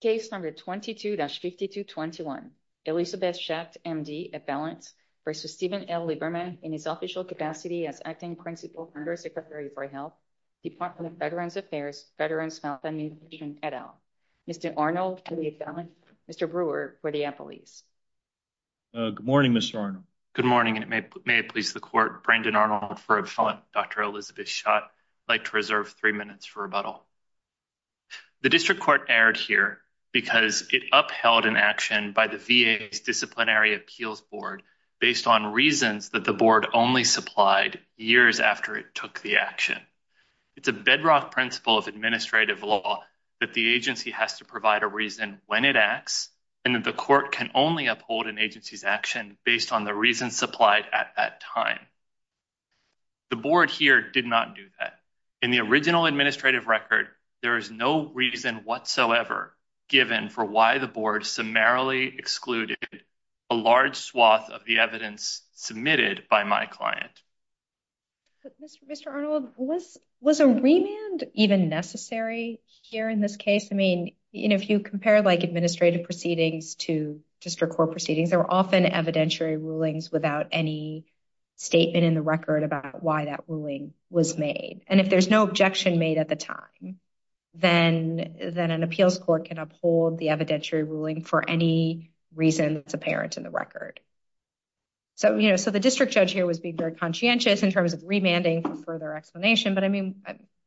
Case number 22-5221 Elizabeth Schacht, M.D., Affelants v. Steven L. Lieberman in his official capacity as Acting Principal Under Secretary for Health, Department of Veterans Affairs, Veterans Health Administration, et al. Mr. Arnold, M.D., Affelants, Mr. Brewer, Rodeo Police Good morning, Mr. Arnold. Good morning, and may it please the Court, Brandon Arnold for Affelants, Dr. Elizabeth Schacht. I'd like to reserve three minutes for rebuttal. The District Court erred here because it upheld an action by the VA's Disciplinary Appeals Board based on reasons that the Board only supplied years after it took the action. It's a bedrock principle of administrative law that the agency has to provide a reason when it acts and that the Court can only uphold an agency's action based on the reasons supplied at that time. The Board here did not do that. In the original administrative record, there is no reason whatsoever given for why the Board summarily excluded a large swath of the evidence submitted by my client. Mr. Arnold, was a remand even necessary here in this case? I mean, if you compare like administrative proceedings to District Court proceedings, they're often evidentiary rulings without any statement in the record about why that ruling was made. And if there's no objection made at the time, then an appeals court can uphold the evidentiary ruling for any reason that's apparent in the record. So, you know, so the District Judge here was being very conscientious in terms of remanding for further explanation, but I mean,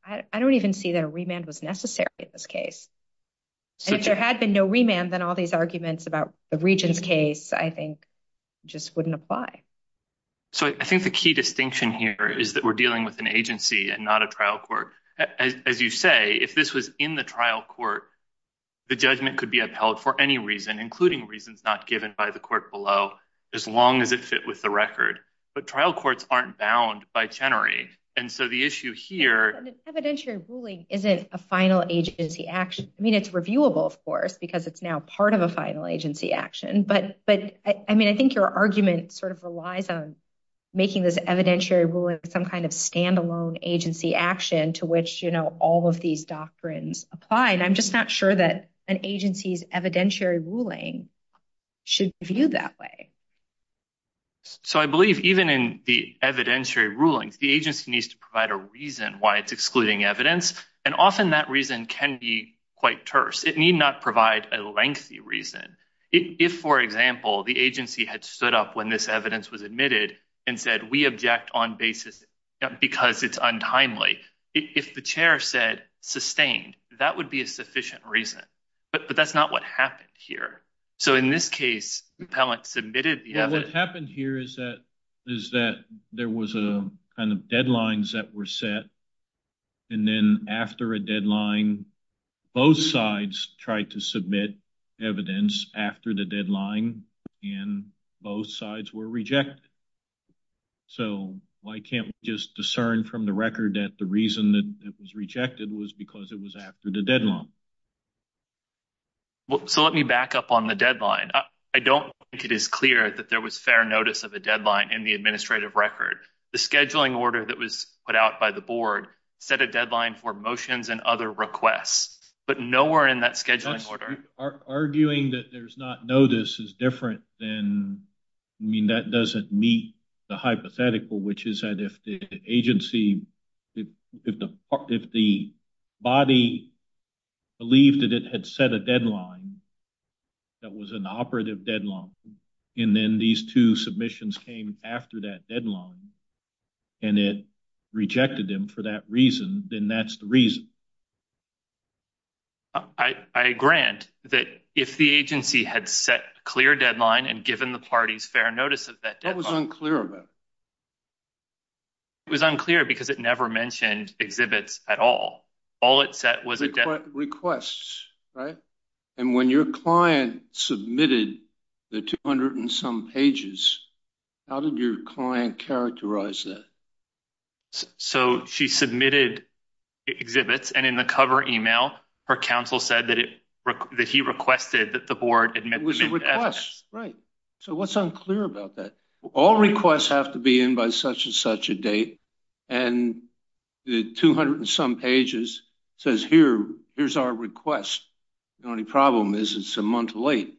I don't even see that a remand was necessary in this case. And if there had been no remand, then all these arguments about the So I think the key distinction here is that we're dealing with an agency and not a trial court. As you say, if this was in the trial court, the judgment could be upheld for any reason, including reasons not given by the court below, as long as it fit with the record. But trial courts aren't bound by Chenery. And so the issue here, evidentiary ruling isn't a final agency action. I mean, it's reviewable, of course, because it's now part of a final agency action. But I mean, I think your argument sort of relies on making this evidentiary ruling some kind of standalone agency action to which, you know, all of these doctrines apply. And I'm just not sure that an agency's evidentiary ruling should be viewed that way. So I believe even in the evidentiary rulings, the agency needs to provide a reason why it's excluding evidence. And often that reason can be quite terse. It need not provide a lengthy reason. If, for example, the agency had stood up when this evidence was admitted and said, we object on basis because it's untimely. If the chair said sustained, that would be a sufficient reason. But that's not what happened here. So in this case, the appellant submitted the evidence. What happened here is that there was a kind of deadlines that were set. And then after a deadline, both sides tried to submit evidence after the deadline, and both sides were rejected. So why can't we just discern from the record that the reason that it was rejected was because it was after the deadline? Well, so let me back up on the deadline. I don't think it is clear that there was fair notice of a deadline in the administrative record. The scheduling order that was put out by the board set a deadline for motions and other requests, but nowhere in that scheduling order. Arguing that there's not notice is different than, I mean, that doesn't meet the hypothetical, which is that if the agency, if the body believed that it had set a deadline that was an operative deadline, and then these two submissions came after that deadline, and it rejected them for that reason, then that's the reason. I grant that if the agency had set a clear deadline and given the parties fair notice of that deadline. What was unclear about it? It was unclear because it never mentioned exhibits at all. All it set was a deadline. Requests, right? And when your client submitted the 200 and some pages, how did your client characterize that? So she submitted exhibits, and in the cover email, her counsel said that it, that he requested that the board admit them. It was a request, right? So what's unclear about that? All requests have to be in by such and such a date, and the 200 and some pages says here, here's our request. The only problem is it's a month late.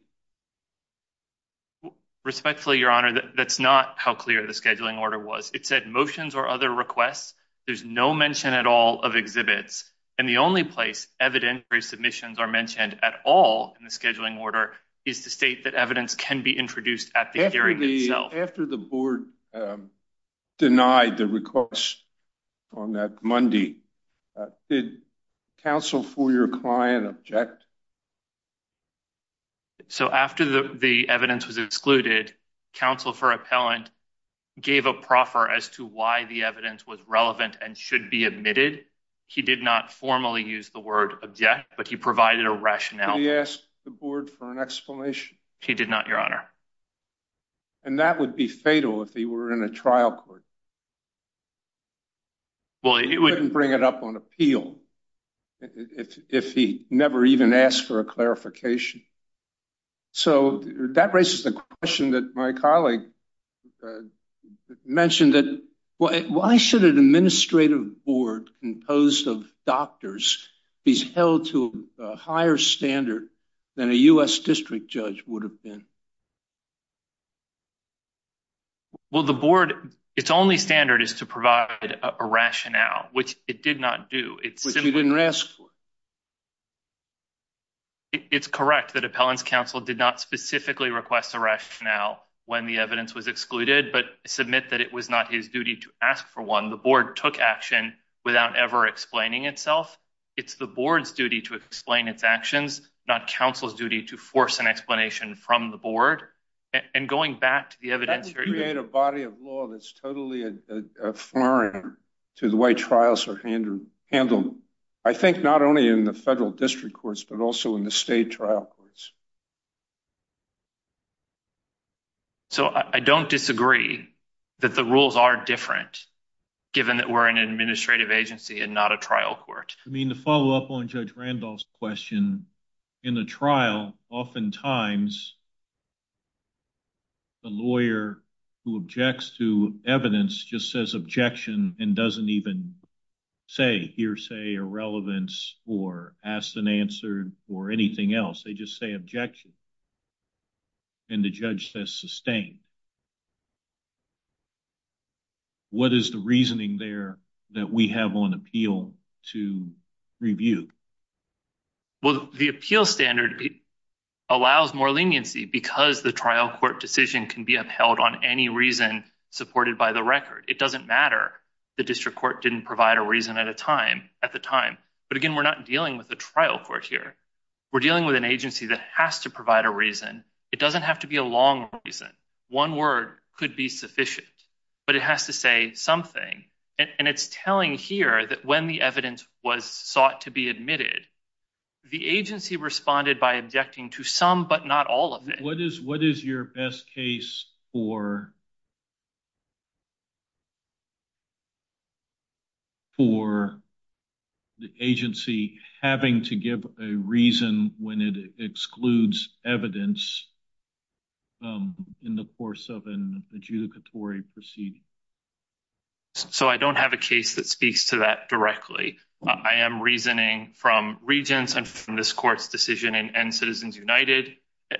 Respectfully, your honor, that's not how clear the scheduling order was. It said motions or other requests, there's no mention at all of exhibits, and the only place evidentiary submissions are mentioned at all in the scheduling order is the state that evidence can be introduced at the hearing itself. After the board denied the request on that Monday, did counsel for your client object? So after the evidence was excluded, counsel for appellant gave a proffer as to why the evidence was relevant and should be admitted. He did not formally use the word object, but he provided a rationale. Did he ask the board for an explanation? He did not, your honor. And that would be fatal if he were in a trial court. Well, he wouldn't bring it up on appeal if he never even asked for a clarification. So that raises the question that my colleague mentioned that why should an administrative board composed of doctors be held to a higher standard than a U.S. district judge would have been? Well, the board, its only standard is to provide a rationale, which it did not do. It's correct that appellant's counsel did not specifically request a rationale when the evidence was excluded, but submit that it was not his duty to ask for one. The board took action without ever explaining itself. It's the board's duty to explain its actions, not counsel's duty to force an explanation from the board. And going back to the evidence... That would create a body of law that's totally a flaring to the way trials are handled. I think not only in the federal district courts, but also in the state trial courts. So I don't disagree that the rules are different, given that we're an administrative agency and not a trial court. I mean, to follow up on Judge Randolph's question, in the trial, oftentimes the lawyer who objects to evidence just says objection and doesn't even say hearsay, irrelevance, or ask and answer, or anything else. They just say objection. And the judge says objection. What is the reasoning there that we have on appeal to review? Well, the appeal standard allows more leniency because the trial court decision can be upheld on any reason supported by the record. It doesn't matter. The district court didn't provide a reason at the time. But again, we're not dealing with a trial court here. We're dealing with an agency that has to provide a reason. It doesn't have to be a long reason. One word could be sufficient, but it has to say something. And it's telling here that when the evidence was sought to be admitted, the agency responded by objecting to some, but not all of it. What is your best case for the agency having to give a reason when it excludes evidence in the course of an adjudicatory proceeding? So I don't have a case that speaks to that directly. I am reasoning from regents and this court's decision in Citizens United.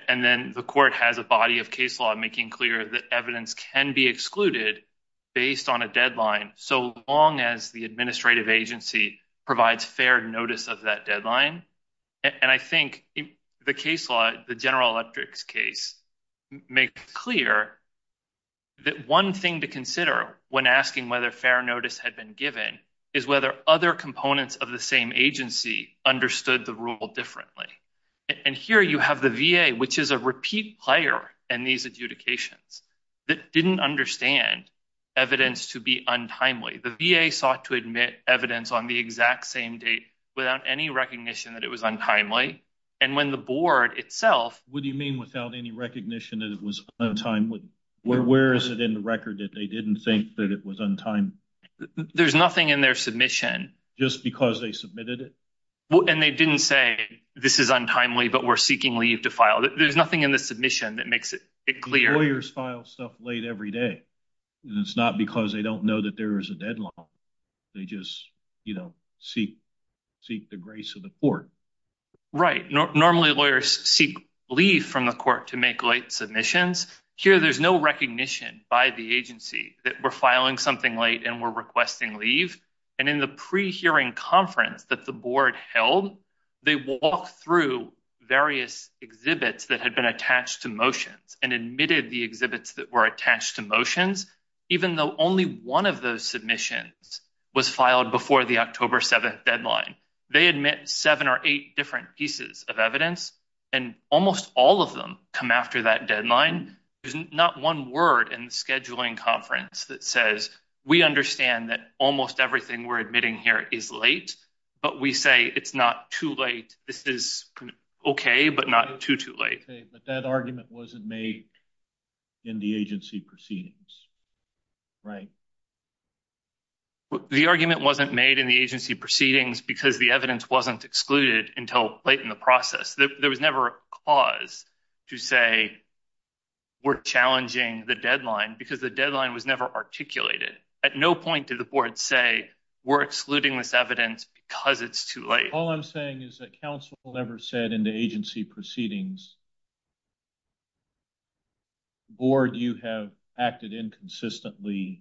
And then the court has a body of case law making clear that evidence can be excluded based on a deadline, so long as the administrative agency provides fair notice of that deadline. And I think the case law, the General Electric's case, makes clear that one thing to consider when asking whether fair notice had been given is whether other components of the same agency understood the rule differently. And here you have the VA, which is a repeat player in these adjudications, that didn't understand evidence to be untimely. The VA sought to admit evidence on the exact same date without any recognition that it was untimely. And when the board itself... What do you mean without any recognition that it was untimely? Where is it in the record that they didn't think that it was untimely? There's nothing in their submission. Just because they submitted it? And they didn't say this is untimely, but we're seeking leave to file. There's nothing in the submission that makes it clear. Lawyers file stuff late every day, and it's not because they don't know that there is a deadline. They just seek the grace of the court. Right. Normally lawyers seek leave from the court to make late submissions. Here there's no recognition by the agency that we're filing something late and we're requesting leave. And in the pre-hearing conference that the board held, they walked through various exhibits that had been attached to motions and admitted the exhibits that were attached to motions, even though only one of those submissions was filed before the October 7th deadline. They admit seven or eight different pieces of evidence, and almost all of them come after that deadline. There's not one word in the scheduling conference that says we understand that almost everything we're admitting here is late, but we say it's not too late. This is okay, but not too, too late. But that argument wasn't made in the agency proceedings, right? The argument wasn't made in the agency proceedings because the evidence wasn't excluded until late in the process. There was never a cause to say we're challenging the deadline because the deadline was never articulated. At no point did the board say we're excluding this evidence because it's too late. All I'm saying is that counsel never said in the agency proceedings that the board, you have acted inconsistently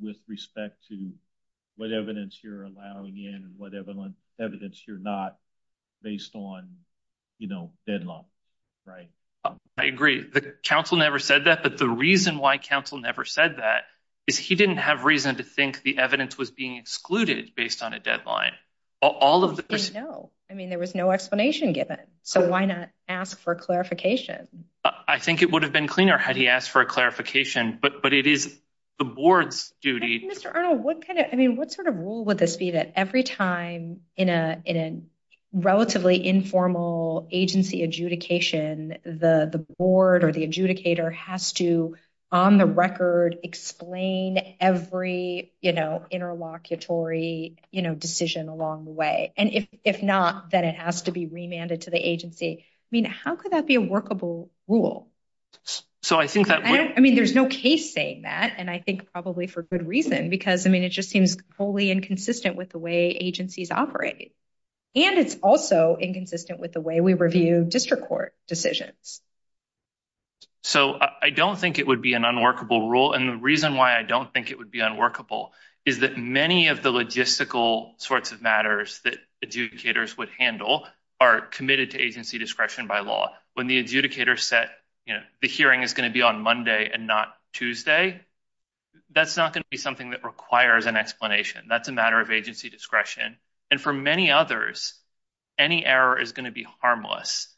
with respect to what evidence you're allowing in and what evidence you're not based on, you know, deadline, right? I agree. The counsel never said that, but the reason why counsel never said that is he didn't have reason to think the evidence was being excluded based on a deadline. All of this. No, I mean, there was no explanation given. So why not ask for clarification? I think it would have been cleaner had he asked for a clarification, but it is the board's duty. Mr. Arnold, what kind of, I mean, what sort of rule would this be that every time in a relatively informal agency adjudication, the board or the adjudicator has to, on the record, explain every, you know, interlocutory, you know, decision along the way. And if not, then it has to be remanded to the agency. I mean, how could that be a workable rule? So I think that, I mean, there's no case saying that. And I think probably for good reason, because, I mean, it just seems wholly inconsistent with the way agencies operate. And it's also inconsistent with the way we review district court decisions. So I don't think it would be an unworkable rule. And the reason why I don't think it would be unworkable is that many of the logistical sorts of matters that adjudicators would handle are committed to agency discretion by law. When the adjudicator set, you know, the hearing is going to be on Monday and not Tuesday, that's not going to be something that requires an explanation. That's a matter of agency discretion. And for many others, any error is going to be harmless.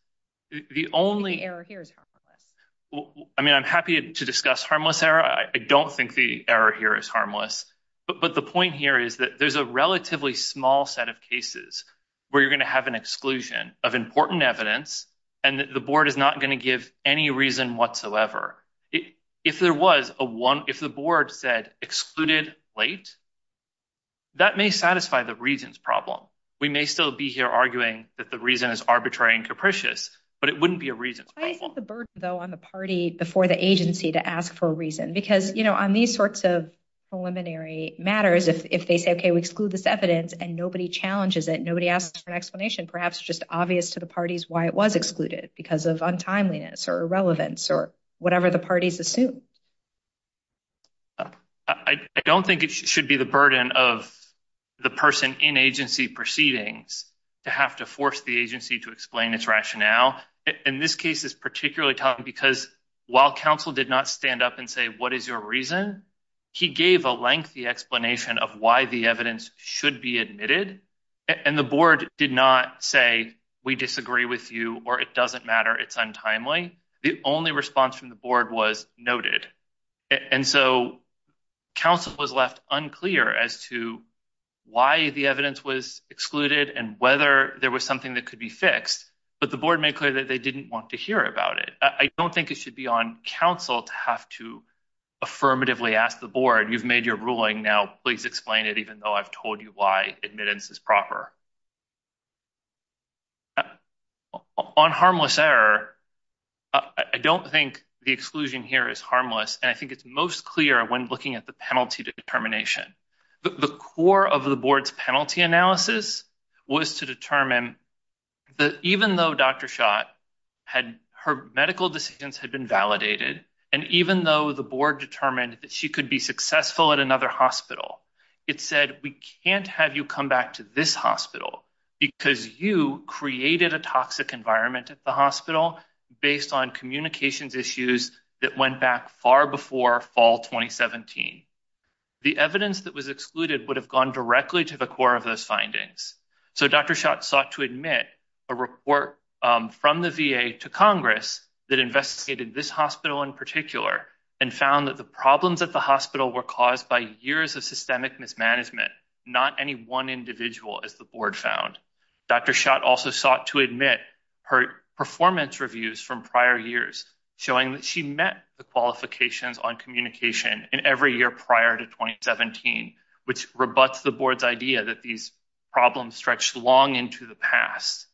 The only- Any error here is harmless. I mean, I'm happy to discuss harmless error. I don't think the error here is harmless. But the point here is that there's a relatively small set of cases where you're going to have an exclusion of important evidence, and the board is not going to give any reason whatsoever. If there was a one, if the board said excluded late, that may satisfy the reasons problem. We may still be here arguing that the reason is arbitrary and capricious, but it wouldn't be a reasons problem. What's the burden, though, on the party before the agency to ask for a reason? Because, you know, on these sorts of preliminary matters, if they say, okay, we exclude this evidence and nobody challenges it, nobody asks for an explanation, perhaps just obvious to the parties why it was excluded because of untimeliness or irrelevance or whatever the parties assume. I don't think it should be the burden of the person in agency proceedings to have to force the agency to explain its rationale. And this case is particularly tough because while counsel did not stand up and say, what is your reason? He gave a lengthy explanation of why the evidence should be admitted. And the board did not say, we disagree with you, or it doesn't matter, it's untimely. The only response from the board was noted. And so counsel was left unclear as to why the evidence was excluded and whether there was something that could be fixed. But the board made clear that they didn't want to hear about it. I don't think it should be on counsel to have to affirmatively ask the board, you've made your ruling now, please explain it, even though I've told you why admittance is proper. On harmless error, I don't think the exclusion here is harmless. And I think it's most clear when looking at the penalty determination. The core of the board's penalty analysis was to determine that even though Dr. Schott, her medical decisions had been validated, and even though the board determined that she could be successful at another hospital, it said, we can't have you come back to this hospital because you created a toxic environment at the hospital based on communications issues that went back far before fall 2017. The evidence that was excluded would have gone directly to the core of those findings. So Dr. Schott sought to admit a report from the VA to Congress that investigated this hospital in particular and found that the problems at the hospital were caused by years of systemic mismanagement. Not any one individual, as the board found. Dr. Schott also sought to admit her performance reviews from prior years, showing that she met the qualifications on communication in every year prior to 2017, which rebuts the board's idea that these problems stretched long into the past.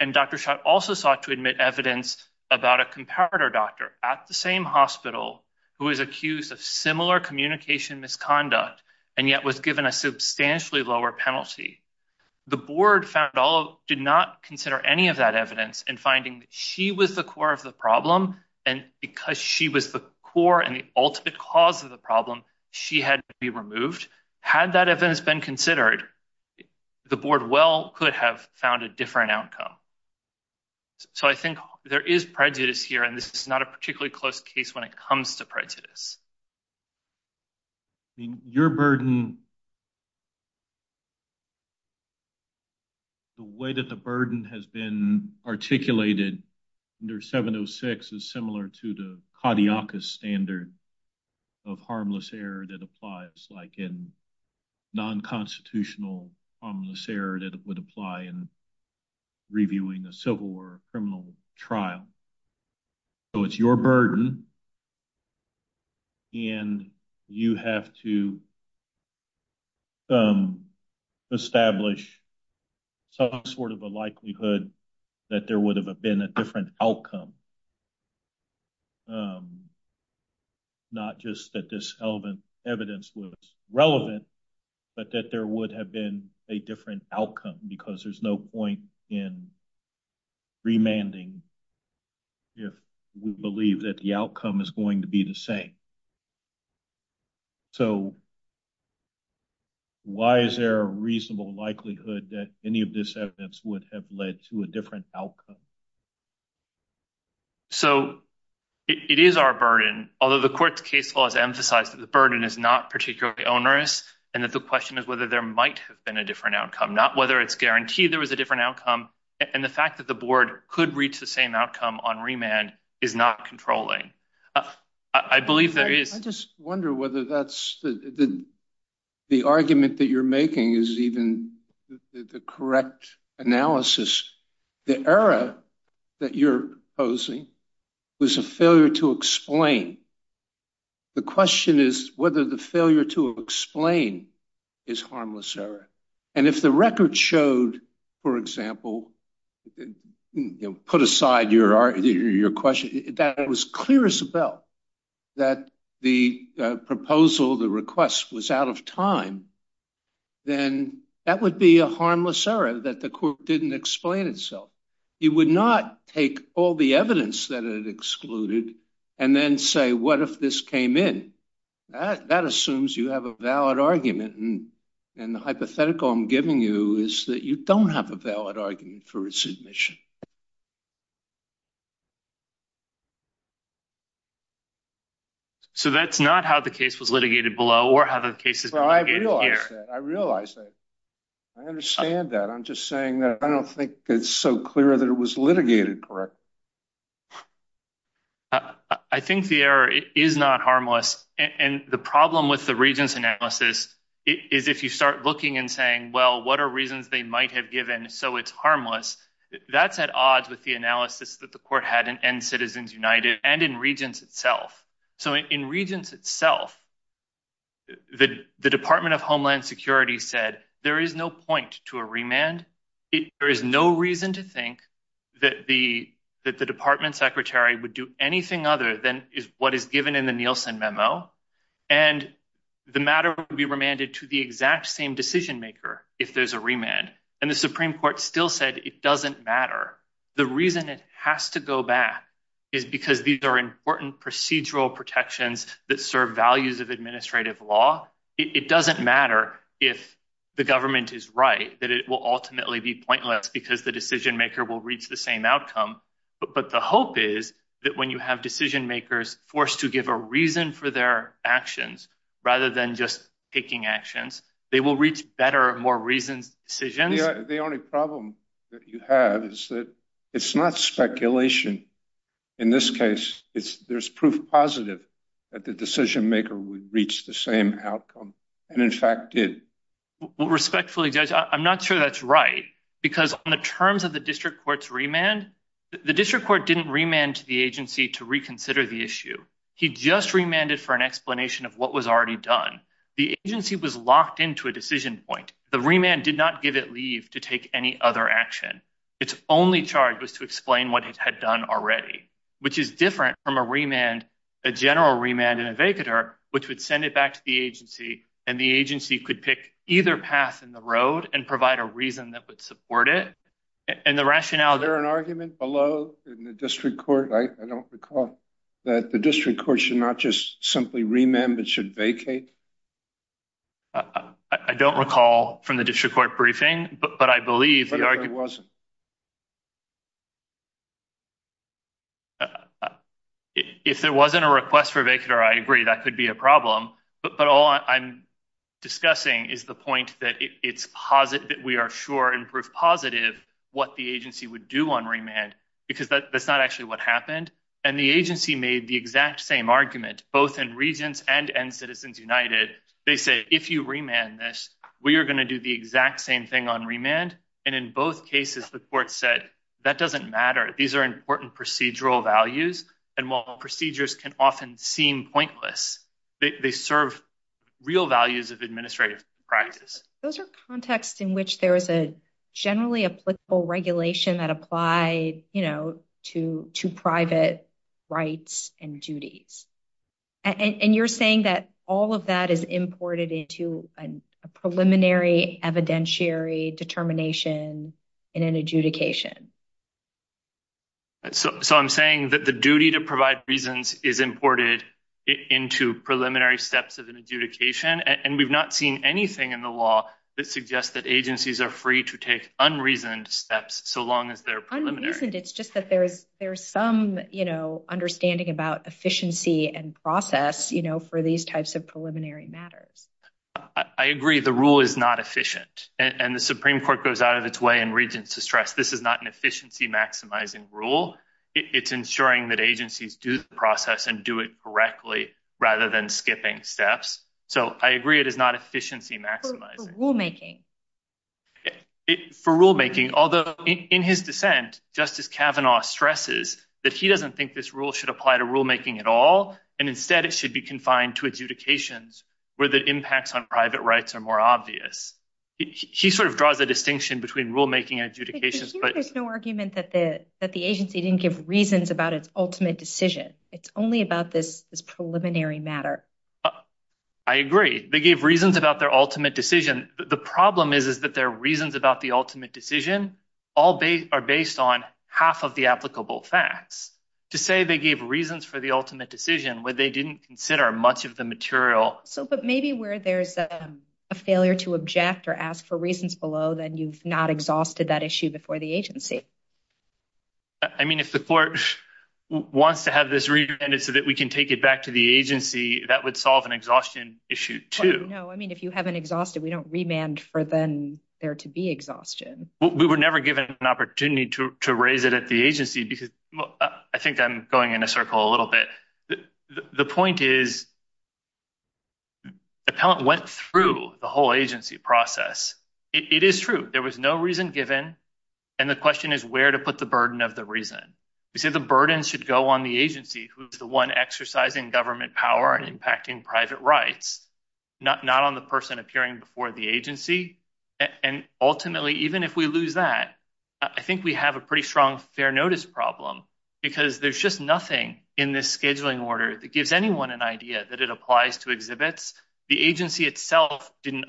And Dr. Schott also sought to admit evidence about a comparator doctor at the same hospital who is accused of similar communication misconduct, and yet was given a substantially lower penalty. The board did not consider any of that evidence in finding that she was the core of the problem, and because she was the core and the ultimate cause of the problem, she had to be removed. Had that evidence been considered, the board well could have found a different outcome. So I think there is prejudice here, and this is not a particularly close case when it comes to the burden. The way that the burden has been articulated under 706 is similar to the caudiacus standard of harmless error that applies, like in non-constitutional harmless error that would apply in reviewing a civil or criminal trial. So it's your burden, and you have to establish some sort of a likelihood that there would have been a different outcome. Not just that this relevant evidence was relevant, but that there would have been a different outcome because there's no point in remanding if we believe that the outcome is going to be the same. So why is there a reasonable likelihood that any of this evidence would have led to a different outcome? So it is our burden, although the court's case law has emphasized that the burden is not particularly onerous, and that the question is whether there might have been a different outcome, not whether it's guaranteed there was a different outcome, and the fact that the board could reach the same outcome on remand is not controlling. I just wonder whether the argument that you're making is even the correct analysis. The error that you're posing was a failure to explain. The question is whether the failure to explain is harmless error, and if the record showed, for example, put aside your question, that was clear as a bell that the proposal, the request was out of time, then that would be a harmless error that the court didn't explain itself. You would not take all the evidence that it excluded and then say, what if this came in? That assumes you have a valid argument, and the hypothetical I'm giving you is that you don't have a valid argument for its admission. So that's not how the case was litigated below or how the case is litigated here. I realize that. I understand that. I'm just saying that I don't think it's so clear that was litigated correctly. I think the error is not harmless, and the problem with the Regents' analysis is if you start looking and saying, well, what are reasons they might have given so it's harmless, that's at odds with the analysis that the court had in End Citizens United and in Regents itself. So in Regents itself, the Department of Homeland Security said there is no to a remand. There is no reason to think that the department secretary would do anything other than what is given in the Nielsen memo. And the matter would be remanded to the exact same decision maker if there's a remand. And the Supreme Court still said it doesn't matter. The reason it has to go back is because these are important procedural protections that serve values of it will ultimately be pointless because the decision maker will reach the same outcome. But the hope is that when you have decision makers forced to give a reason for their actions rather than just taking actions, they will reach better, more reasoned decisions. The only problem that you have is that it's not speculation. In this case, there's proof positive that the decision maker would reach the same outcome and in fact did. Respectfully, Judge, I'm not sure that's right because on the terms of the district court's remand, the district court didn't remand to the agency to reconsider the issue. He just remanded for an explanation of what was already done. The agency was locked into a decision point. The remand did not give it leave to take any other action. Its only charge was to explain what it had done already, which is different from a remand, a general remand and either path in the road and provide a reason that would support it and the rationale. Is there an argument below in the district court, I don't recall, that the district court should not just simply remand, but should vacate? I don't recall from the district court briefing, but I believe the argument was. If there wasn't a request for a vacater, I agree that could be a problem, but all I'm discussing is the point that it's positive that we are sure and proof positive what the agency would do on remand because that's not actually what happened. And the agency made the exact same argument, both in Regents and in Citizens United. They say, if you remand this, we are going to do the exact same thing on remand. And in both cases, the court said that doesn't matter. These are important procedural values. And while procedures can often seem pointless, they serve real values of administrative practice. Those are contexts in which there is a generally applicable regulation that applied, you know, to private rights and duties. And you're saying that all of that is imported into a preliminary evidentiary determination in an adjudication. So, I'm saying that the duty to provide reasons is imported into preliminary steps of an adjudication, and we've not seen anything in the law that suggests that agencies are free to take unreasoned steps so long as they're preliminary. It's just that there's some, you know, understanding about efficiency and process, you know, for these types of preliminary matters. I agree the rule is not efficient, and the Supreme Court goes out of its way in Regents to stress this is not an efficiency maximizing rule. It's ensuring that agencies do the process and do it correctly rather than skipping steps. So, I agree it is not efficiency maximizing. For rulemaking. For rulemaking, although in his dissent, Justice Kavanaugh stresses that he doesn't think this rule should apply to rulemaking at all, and instead it should be confined to adjudications where the impacts on private rights are more obvious. He sort of draws a distinction between rulemaking and adjudications. There's no argument that the agency didn't give reasons about its ultimate decision. It's only about this preliminary matter. I agree. They gave reasons about their ultimate decision. The problem is that their reasons about the ultimate decision are based on half of the applicable facts. To say they gave reasons for the ultimate decision when they didn't consider much of the material. So, but maybe where there's a failure to object or ask for reasons below, then you've not exhausted that issue before the agency. I mean, if the court wants to have this remanded so that we can take it back to the agency, that would solve an exhaustion issue, too. No, I mean, if you haven't exhausted, we don't remand for them there to be exhaustion. We were never given an opportunity to raise it at the agency because I think I'm going in a circle a little bit. The point is, the appellant went through the whole agency process. It is true. There was no reason given. And the question is where to put the burden of the reason. We say the burden should go on the agency who's the one exercising government power and impacting private rights, not on the person appearing before the agency. And ultimately, even if we lose that, I think we have a pretty strong fair notice problem because there's just nothing in this scheduling order that gives anyone an answer. The agency itself didn't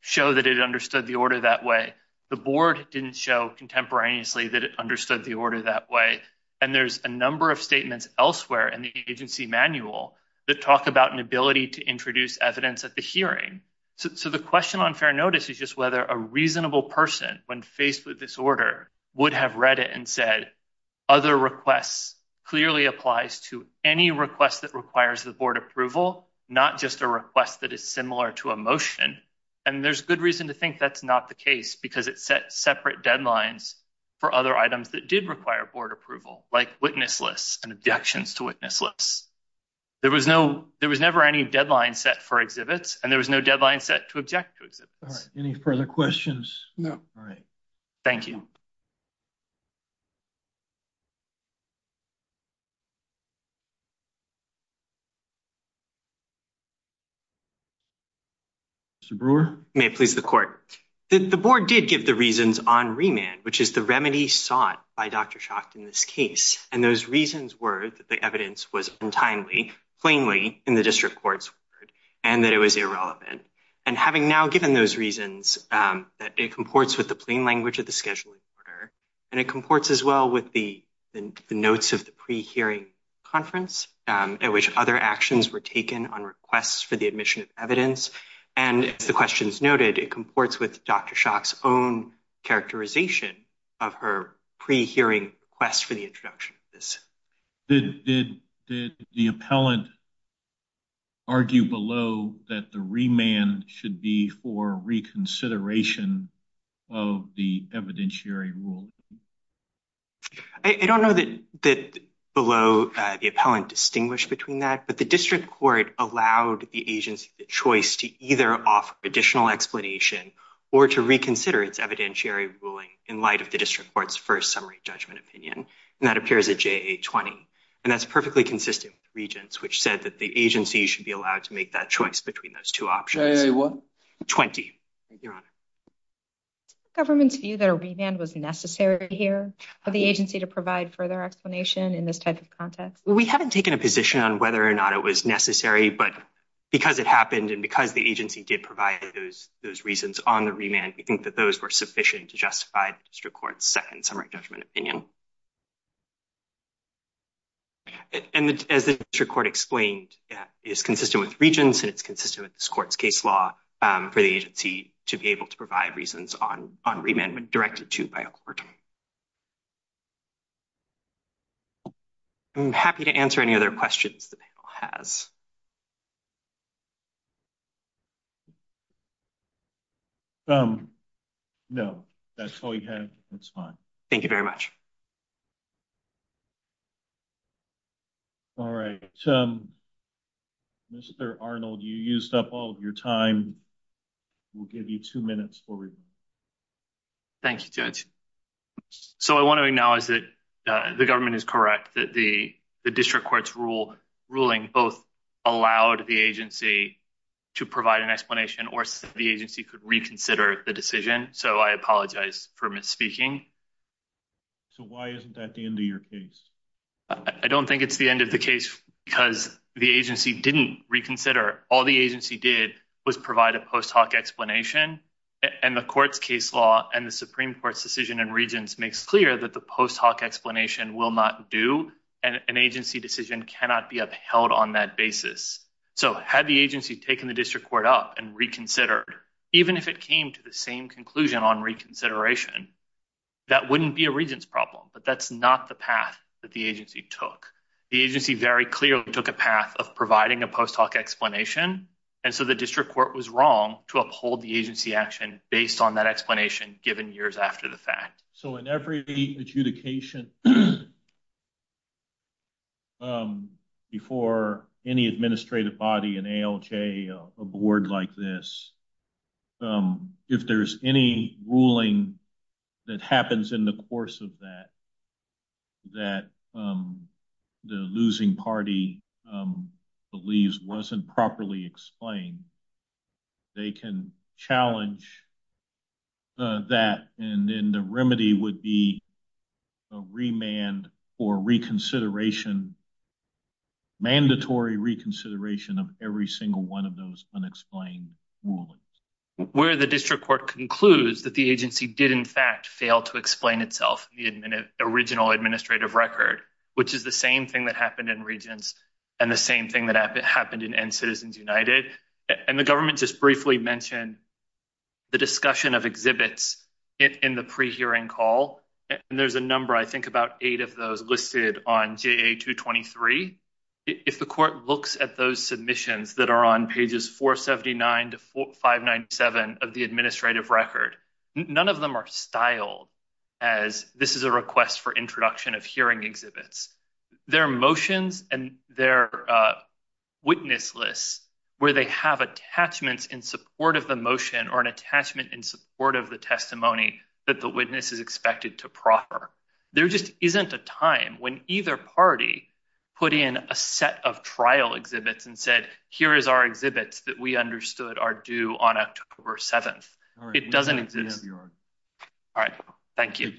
show that it understood the order that way. The board didn't show contemporaneously that it understood the order that way. And there's a number of statements elsewhere in the agency manual that talk about an ability to introduce evidence at the hearing. So the question on fair notice is just whether a reasonable person when faced with this order would have read it and said other requests clearly applies to any request that requires the board approval, not just a request that is similar to a motion. And there's good reason to think that's not the case because it set separate deadlines for other items that did require board approval, like witness lists and objections to witness lists. There was no, there was never any deadline set for exhibits and there was no deadline set to object to exhibits. Any further questions? No. All right. Thank you. Mr. Brewer. May it please the court. The board did give the reasons on remand, which is the remedy sought by Dr. Schacht in this case. And those reasons were that the evidence was untimely, plainly in the district court's word, and that it was irrelevant. And having now given those reasons, that it comports with the plain language of the scheduling order, and it comports as well with the notes of the pre-hearing conference at which other actions were taken on requests for the admission of evidence. And as the questions noted, it comports with Dr. Schacht's own characterization of her pre-hearing request for the introduction of this. Did the appellant argue below that the remand should be for reconsideration of the evidentiary rule? I don't know that below the appellant distinguished between that, but the district court allowed the agency the choice to either offer additional explanation or to reconsider its evidentiary ruling in light of the district court's first summary judgment opinion. And that appears at JA 20. And that's perfectly consistent with the regents, which said that the agency should be allowed to make that choice between those two options. JA what? 20, your honor. Does the government's view that a remand was necessary here for the agency to provide further explanation in this type of context? We haven't taken a position on whether or not it was necessary, but because it happened and because the agency did provide those reasons on the remand, we think that those were sufficient to justify district court's second summary judgment opinion. And as the district court explained, it's consistent with regents and it's consistent with this court's case law for the agency to be able to provide reasons on remand when directed to by a court. I'm happy to answer any other questions the panel has. No, that's all you have. That's fine. Thank you very much. All right. Mr. Arnold, you used up all of your time. We'll give you two minutes for remand. Thank you, Judge. So I want to acknowledge that the government is correct that the district court's ruling both allowed the agency to provide an explanation or the agency could reconsider the decision. So I apologize for misspeaking. So why isn't that the end of your case? I don't think it's the end of the case because the agency didn't reconsider. All the agency did was provide a post hoc explanation and the court's case law and the Supreme Court's decision and regents makes clear that the post hoc explanation will not do and an agency decision cannot be upheld on that basis. So had the agency taken the district court up and reconsidered, even if it came to the same conclusion on reconsideration, that wouldn't be a regents problem. But that's not the path that the agency took. The agency very clearly took a path of providing a post hoc explanation. And so the district court was wrong to uphold the agency action based on that explanation given years after the fact. So in every adjudication before any administrative body and ALJ a board like this, if there's any ruling that happens in the course of that, that the losing party believes wasn't properly explained, they can challenge that and then the remedy would be a remand for reconsideration, mandatory reconsideration of every single one of those unexplained rulings. Where the district court concludes that the agency did in fact fail to explain itself in the original administrative record, which is the same thing that happened in regents and the same thing happened in End Citizens United. And the government just briefly mentioned the discussion of exhibits in the pre-hearing call. And there's a number, I think about eight of those listed on JA 223. If the court looks at those submissions that are on pages 479 to 597 of the administrative record, none of them are styled as this is a request for introduction of hearing exhibits. They're motions and they're witness lists where they have attachments in support of the motion or an attachment in support of the testimony that the witness is expected to proffer. There just isn't a time when either party put in a set of trial exhibits and said, here is our exhibits that we understood are due on October 7th. It doesn't exist. All right. Thank you.